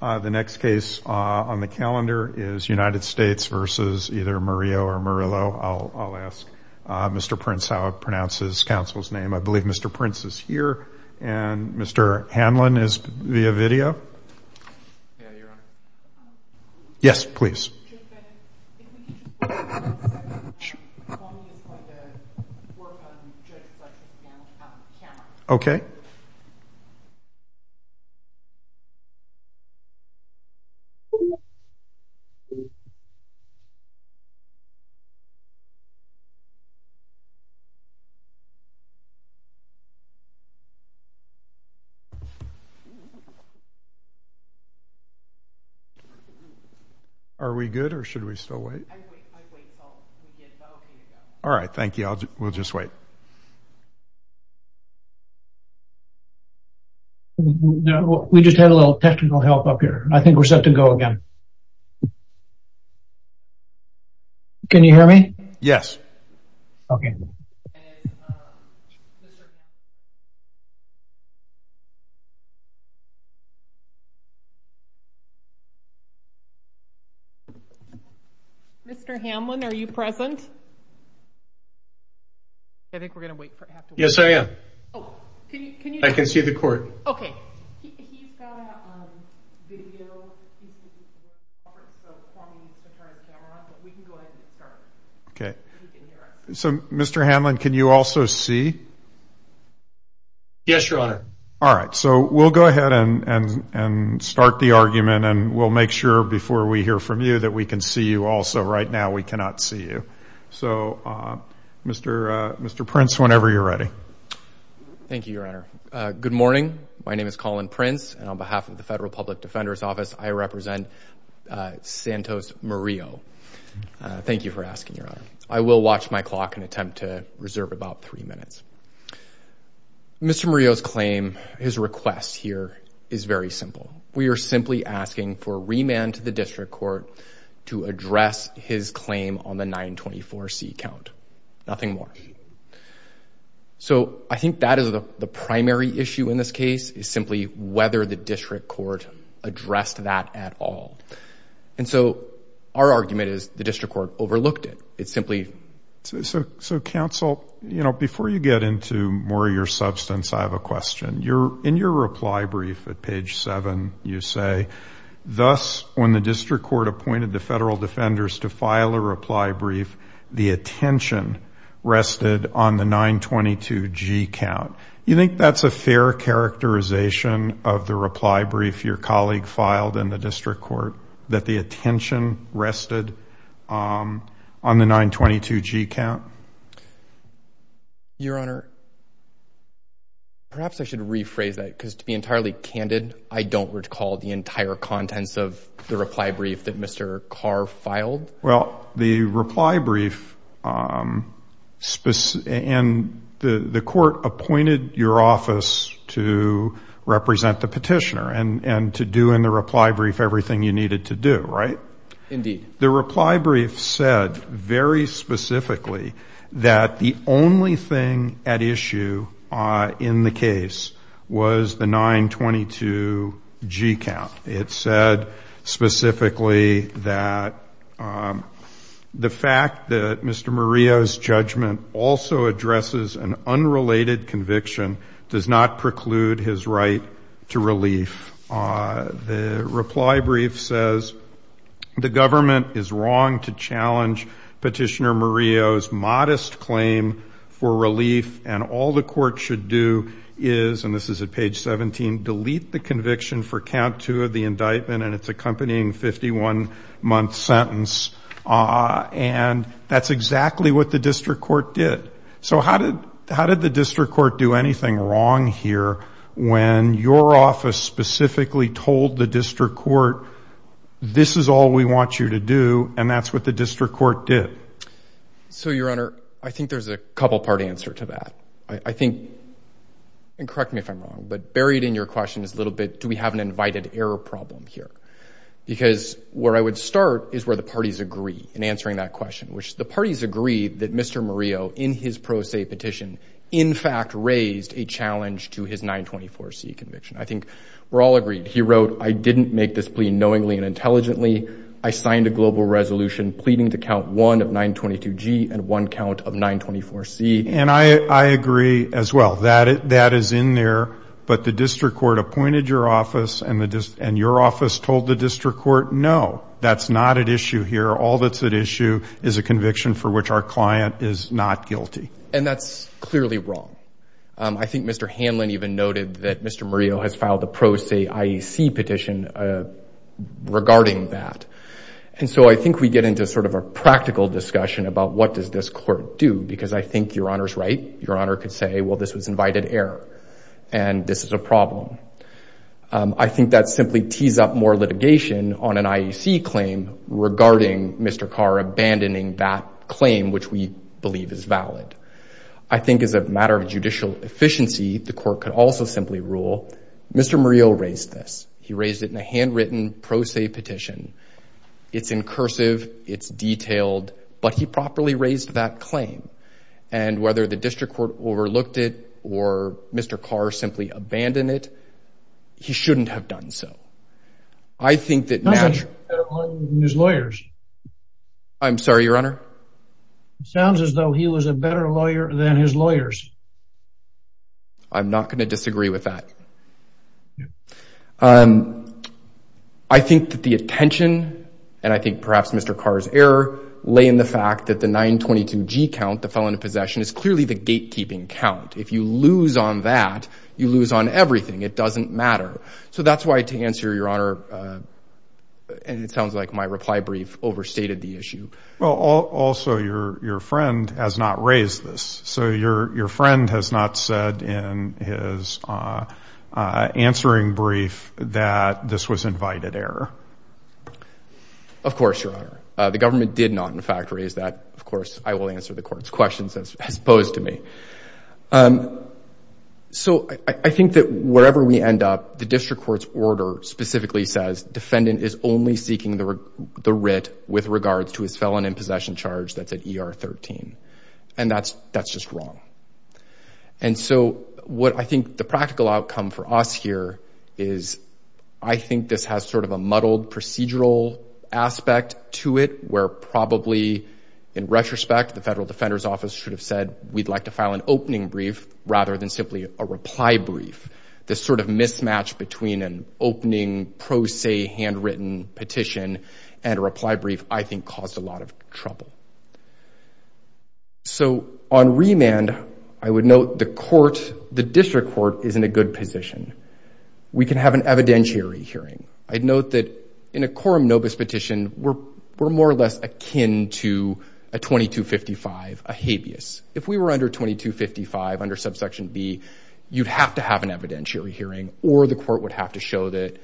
The next case on the calendar is United States versus either Murillo or Murillo. I'll ask Mr. Prince how it pronounces council's name. I believe Mr. Prince is here and Mr. Hanlon is via video. Yes, please. Okay. Are we good or should we still wait? All right. Thank you. No, we just had a little technical help up here. I think we're set to go again. Can you hear me? Yes. Okay. Mr. Hamlin, are you present? I think we're going to wait. Yes, I am. I can see the court. Okay. So, Mr. Hamlin, can you also see? Yes, your honor. All right. So, we'll go ahead and start the argument and we'll make sure before we hear from you that we can see you also. Right now, we cannot see you. So, Mr. Prince, whenever you're ready. Thank you, your honor. Good morning. My name is Colin Prince and on behalf of the Federal Public Defender's Office, I represent Santos Murillo. Thank you for asking, your honor. I will watch my clock and attempt to reserve about three minutes. Mr. Murillo's claim, his request here is very simple. We are simply asking for remand to the district court to address his claim on the 924C count. Nothing more. So, I think that is the primary issue in this case is simply whether the district court addressed that at all. And so, our argument is the district court overlooked it. It's simply- So, counsel, you know, before you get into more of your substance, I have a question. In your reply brief at page seven, you say, thus, when the district court appointed the federal defenders to file a reply brief, the attention rested on the 922G count. You think that's a fair characterization of the reply brief your colleague filed in the district court that the attention rested on the 922G count? Your honor, perhaps I should rephrase that because to be entirely candid, I don't recall the entire contents of the reply brief that Mr. Carr filed. Well, the reply brief and the court appointed your office to represent the petitioner and to do in the reply brief everything you needed to do, right? Indeed. The reply brief said very specifically that the only thing at issue in the case was the 922G count. It said specifically that the fact that Mr. Maria's judgment also addresses an unrelated conviction does not preclude his right to relief. The reply brief says the government is wrong to challenge Petitioner Maria's modest claim for relief and all the court should do is, and this is at page 17, delete the conviction for count two of the indictment and its accompanying 51-month sentence. And that's exactly what the district court did. So how did the district court do anything wrong here when your office specifically told the district court, this is all we want you to do and that's what the district court did? So your honor, I think there's a couple part answer to that. I think, and correct me if I'm wrong, but buried in your question is a little bit, do we have an invited error problem here? Because where I would start is where the parties agree in answering that question, which the pro se petition in fact raised a challenge to his 924C conviction. I think we're all agreed. He wrote, I didn't make this plea knowingly and intelligently. I signed a global resolution pleading to count one of 922G and one count of 924C. And I agree as well. That is in there. But the district court appointed your office and your office told the district court, no, that's not at issue here. All that's at issue is a conviction for which our client is not guilty. And that's clearly wrong. I think Mr. Hanlon even noted that Mr. Murillo has filed a pro se IEC petition regarding that. And so I think we get into sort of a practical discussion about what does this court do? Because I think your honor's right. Your honor could say, well, this was invited error and this is a problem. I think that simply tees up more litigation on an IEC claim regarding Mr. Carr abandoning that claim, which we believe is valid. I think as a matter of judicial efficiency, the court could also simply rule, Mr. Murillo raised this. He raised it in a handwritten pro se petition. It's in cursive. It's detailed. But he properly raised that claim. And whether the district court overlooked it or Mr. Carr simply abandoned it, he shouldn't have done so. I think that naturally... He was a better lawyer than his lawyers. I'm sorry, your honor? It sounds as though he was a better lawyer than his lawyers. I'm not going to disagree with that. I think that the attention, and I think perhaps Mr. Carr's error, lay in the fact that the 922G count that fell into possession is clearly the gatekeeping count. If you lose on that, you lose on everything. It doesn't matter. So that's why to answer, your honor, and it sounds like my reply brief overstated the issue. Well, also your friend has not raised this. So your friend has not said in his answering brief that this was invited error. Of course, your honor. The government did not, in fact, raise that. Of course, I will answer the court's questions as opposed to me. So I think that wherever we end up, the district court's order specifically says defendant is only seeking the writ with regards to his felon in possession charge that's at ER 13. And that's just wrong. And so what I think the practical outcome for us here is I think this has sort of a where probably in retrospect, the federal defender's office should have said we'd like to file an opening brief rather than simply a reply brief. This sort of mismatch between an opening pro se handwritten petition and a reply brief, I think caused a lot of trouble. So on remand, I would note the court, the district court is in a good position. We can have an evidentiary hearing. I'd note that in a quorum nobis petition, we're more or less akin to a 2255, a habeas. If we were under 2255 under subsection B, you'd have to have an evidentiary hearing or the court would have to show that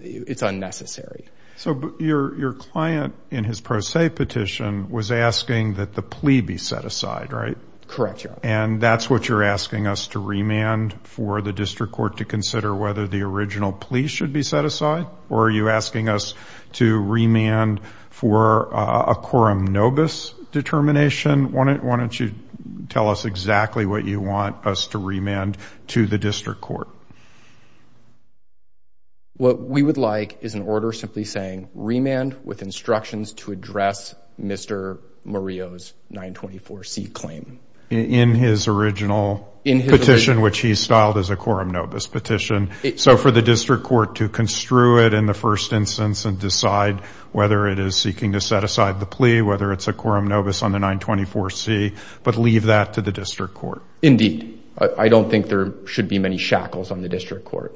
it's unnecessary. So your client in his pro se petition was asking that the plea be set aside, right? Correct, your honor. And that's what you're asking us to remand for the district court to consider whether the original plea should be set aside? Or are you asking us to remand for a quorum nobis determination? Why don't you tell us exactly what you want us to remand to the district court? What we would like is an order simply saying remand with instructions to address Mr. Murillo's 924C claim. In his original petition, which he's styled as a quorum nobis petition. So for the district court to construe it in the first instance and decide whether it is seeking to set aside the plea, whether it's a quorum nobis on the 924C, but leave that to the district court. Indeed, I don't think there should be many shackles on the district court.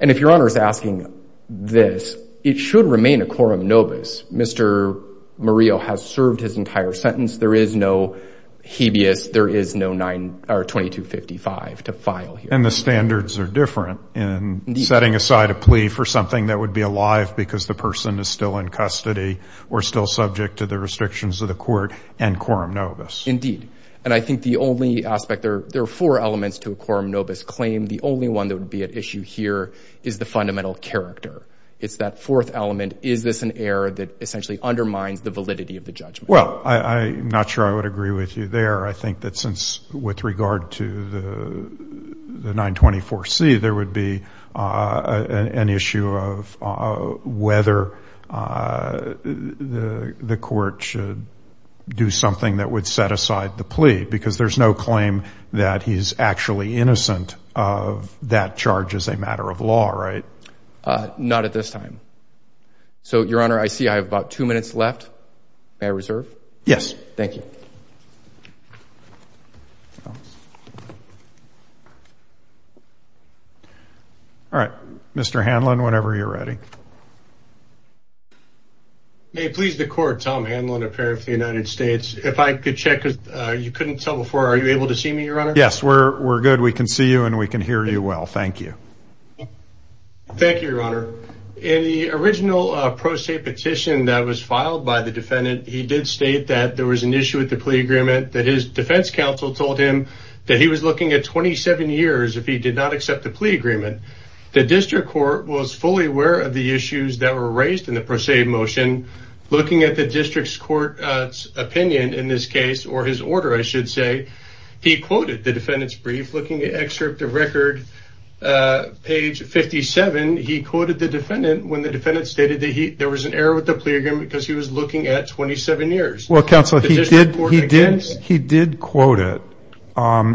And if your honor is asking this, it should remain a quorum nobis. Mr. Murillo has served his entire sentence. There is no habeas. There is no 2255 to file here. And the standards are different in setting aside a plea for something that would be alive because the person is still in custody or still subject to the restrictions of the court and quorum nobis. Indeed. And I think the only aspect, there are four elements to a quorum nobis claim. The only one that would be at issue here is the fundamental character. It's that fourth element. Is this an error that essentially undermines the validity of the judgment? Well, I'm not sure I would agree with you there. I think that since with regard to the 924C, there would be an issue of whether the court should do something that would set aside the plea because there's no claim that he's actually innocent of that charge as a matter of law, right? Not at this time. So your honor, I see I have about two minutes left. May I reserve? Yes. Thank you. No. All right, Mr. Hanlon, whenever you're ready. May it please the court, Tom Hanlon, a parent of the United States. If I could check, because you couldn't tell before. Are you able to see me, your honor? Yes, we're good. We can see you and we can hear you well. Thank you. Thank you, your honor. In the original pro se petition that was filed by the defendant, he did state that there was an issue with the plea agreement, that his defense counsel told him that he was looking at 27 years if he did not accept the plea agreement. The district court was fully aware of the issues that were raised in the pro se motion. Looking at the district's court's opinion in this case, or his order, I should say, he quoted the defendant's brief. Looking at excerpt of record page 57, he quoted the defendant when the defendant stated that there was an error with the plea agreement because he was looking at 27 years. Well, counsel, he did quote it.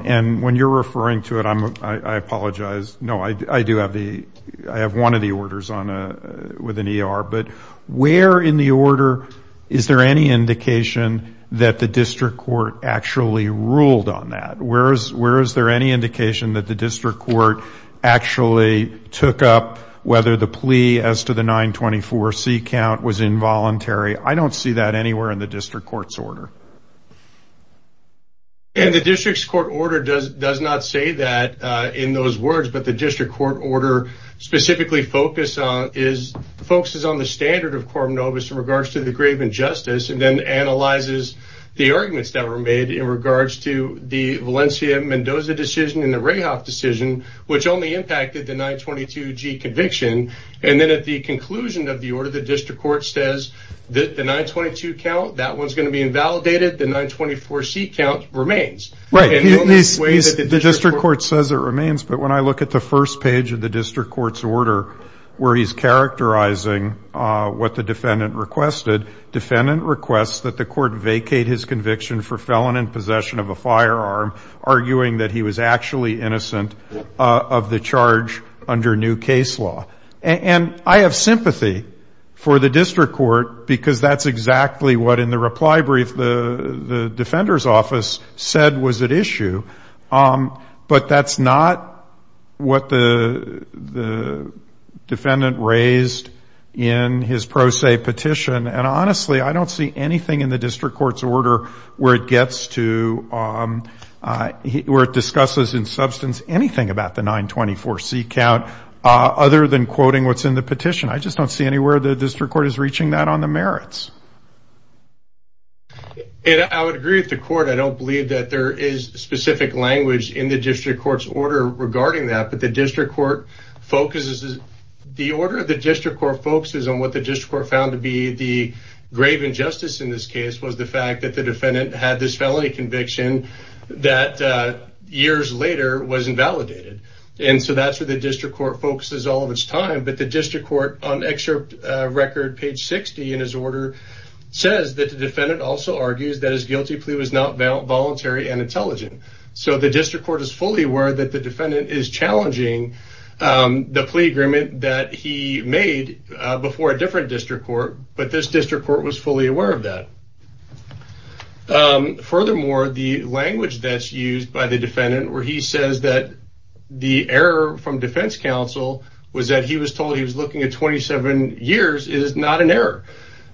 And when you're referring to it, I apologize. No, I do have one of the orders with an ER. But where in the order is there any indication that the district court actually ruled on that? Where is there any indication that the district court actually took up whether the plea as to the 924C count was involuntary? I don't see that anywhere in the district court's order. And the district's court order does not say that in those words. But the district court order specifically focuses on the standard of Coram Novus in regards to the grave injustice and then analyzes the arguments that were made in regards to the Valencia-Mendoza decision and the Rahoff decision, which only impacted the 922G conviction. And then at the conclusion of the order, the district court says that the 922 count, that one's going to be invalidated. The 924C count remains. Right. The district court says it remains. But when I look at the first page of the district court's order where he's characterizing what the defendant requested, defendant requests that the court vacate his conviction for felon in possession of a firearm, arguing that he was actually innocent of the charge under new case law. And I have sympathy for the district court because that's exactly what, in the reply brief, the defender's office said was at issue. But that's not what the defendant raised in his pro se petition. And honestly, I don't see anything in the district court's order where it gets to, where it discusses in substance anything about the 924C count other than quoting what's in the petition. I just don't see anywhere the district court is reaching that on the merits. And I would agree with the court. I don't believe that there is specific language in the district court's order regarding that. But the district court focuses, the order of the district court focuses on what the district court found to be the grave injustice in this case was the fact that the defendant had this felony conviction that years later was invalidated. And so that's where the district court focuses all of its time. But the district court, on excerpt record page 60 in his order, says that the defendant also argues that his guilty plea was not voluntary and intelligent. So the district court is fully aware that the defendant is challenging the plea agreement that he made before a different district court. But this district court was fully aware of that. Furthermore, the language that's used by the defendant where he says that the error from defense counsel was that he was told he was looking at 27 years is not an error.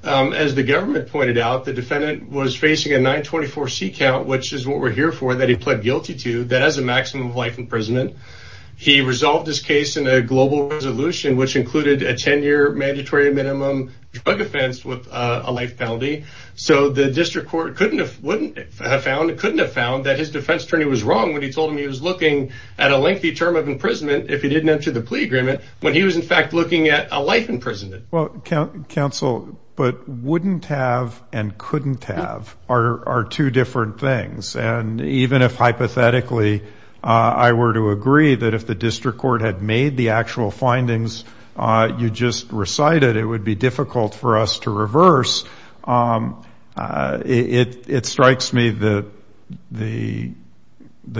As the government pointed out, the defendant was facing a 924C count, which is what we're here for, that he pled guilty to, that has a maximum life imprisonment. He resolved this case in a global resolution, which included a 10-year mandatory minimum drug offense with a life penalty. So the district court couldn't have found that his defense attorney was wrong when he told him he was looking at a lengthy term of imprisonment if he didn't enter the plea agreement when he was, in fact, looking at a life imprisonment. Well, counsel, but wouldn't have and couldn't have are two different things. And even if, hypothetically, I were to agree that if the district court had made the actual argument, it strikes me that the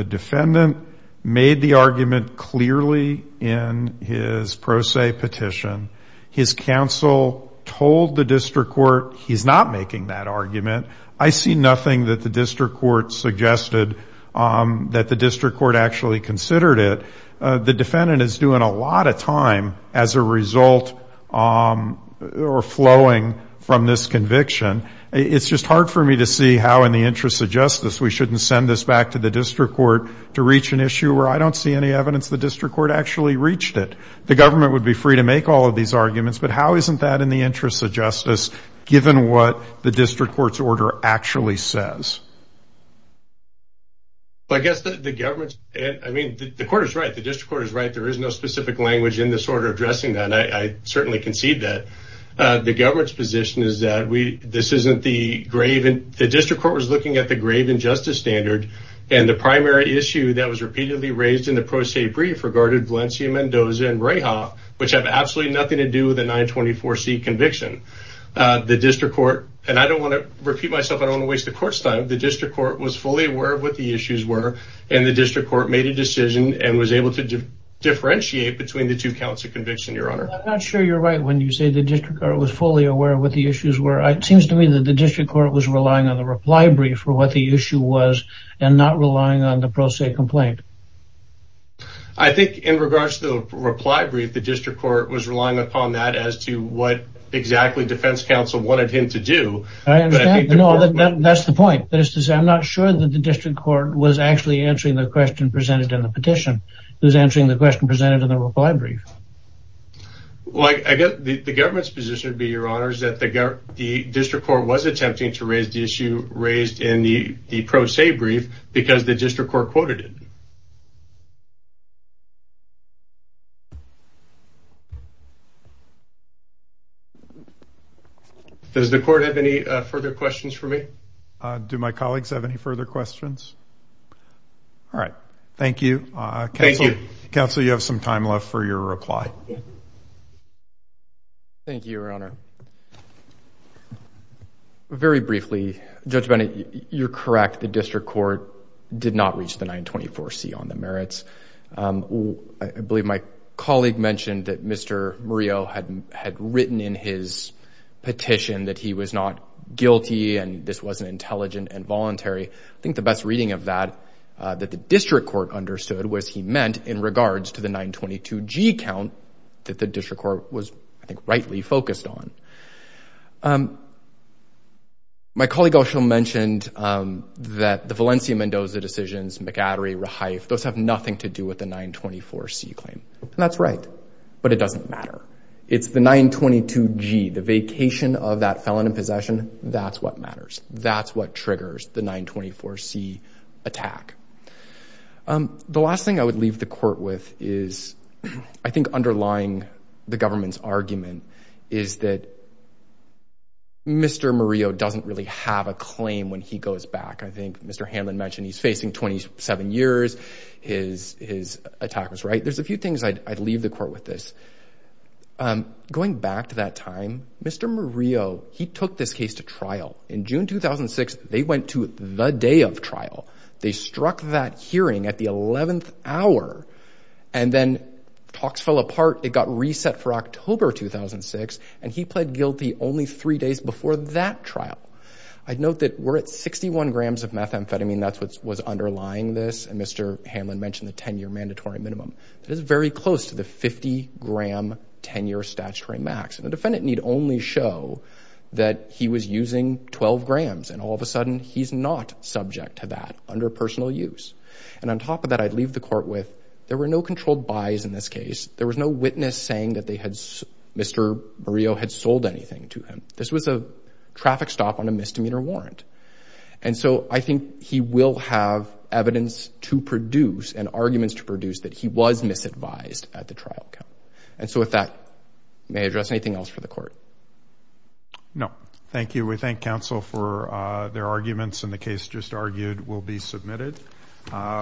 defendant made the argument clearly in his pro se petition. His counsel told the district court he's not making that argument. I see nothing that the district court suggested that the district court actually considered it. The defendant is doing a lot of time as a result or flowing from this conviction. It's just hard for me to see how, in the interests of justice, we shouldn't send this back to the district court to reach an issue where I don't see any evidence the district court actually reached it. The government would be free to make all of these arguments, but how isn't that in the interests of justice, given what the district court's order actually says? Well, I guess the government's, I mean, the court is right. The district court is right. There is no specific language in this order addressing that. I certainly concede that. The government's position is that the district court was looking at the grave injustice standard and the primary issue that was repeatedly raised in the pro se brief regarded Valencia, Mendoza, and Rahoff, which have absolutely nothing to do with the 924C conviction. The district court, and I don't want to repeat myself. I don't want to waste the court's time. The district court was fully aware of what the issues were, and the district court made a decision and was able to differentiate between the two counts of conviction, Your Honor. I'm not sure you're right when you say the district court was fully aware of what the issues were. It seems to me that the district court was relying on the reply brief for what the issue was and not relying on the pro se complaint. I think in regards to the reply brief, the district court was relying upon that as to what exactly defense counsel wanted him to do. I understand. No, that's the point. That is to say, I'm not sure that the district court was actually answering the question presented in the petition. It was answering the question presented in the reply brief. Well, I guess the government's position would be, Your Honor, is that the district court was attempting to raise the issue raised in the pro se brief because the district court quoted it. Does the court have any further questions for me? Do my colleagues have any further questions? All right. Thank you. Thank you. Counselor, you have some time left for your reply. Thank you, Your Honor. Very briefly, Judge Bennett, you're correct. The district court did not reach the 924C on the merits. I believe my colleague mentioned that Mr. Murillo had written in his petition that he was not guilty and this wasn't intelligent and voluntary. I think the best reading of that, that the district court understood was he meant in regards to the 922G count that the district court was, I think, rightly focused on. My colleague also mentioned that the Valencia Mendoza decisions, McAddery, Rehife, those have nothing to do with the 924C claim. That's right, but it doesn't matter. It's the 922G, the vacation of that felon in possession, that's what matters. That's what triggers the 924C attack. The last thing I would leave the court with is, I think, underlying the government's argument is that Mr. Murillo doesn't really have a claim when he goes back. I think Mr. Hanlon mentioned he's facing 27 years, his attack was right. There's a few things I'd leave the court with this. Going back to that time, Mr. Murillo, he took this case to trial. They struck that hearing at the 11th hour, and then talks fell apart. It got reset for October 2006, and he pled guilty only three days before that trial. I'd note that we're at 61 grams of methamphetamine. That's what was underlying this, and Mr. Hanlon mentioned the 10-year mandatory minimum. That is very close to the 50-gram 10-year statutory max. The defendant need only show that he was using 12 grams, and all of a sudden, he's not subject to that under personal use. And on top of that, I'd leave the court with, there were no controlled buys in this case. There was no witness saying that Mr. Murillo had sold anything to him. This was a traffic stop on a misdemeanor warrant. And so, I think he will have evidence to produce, and arguments to produce, that he was misadvised at the trial count. And so, with that, may I address anything else for the court? No, thank you. We thank counsel for their arguments, and the case just argued will be submitted.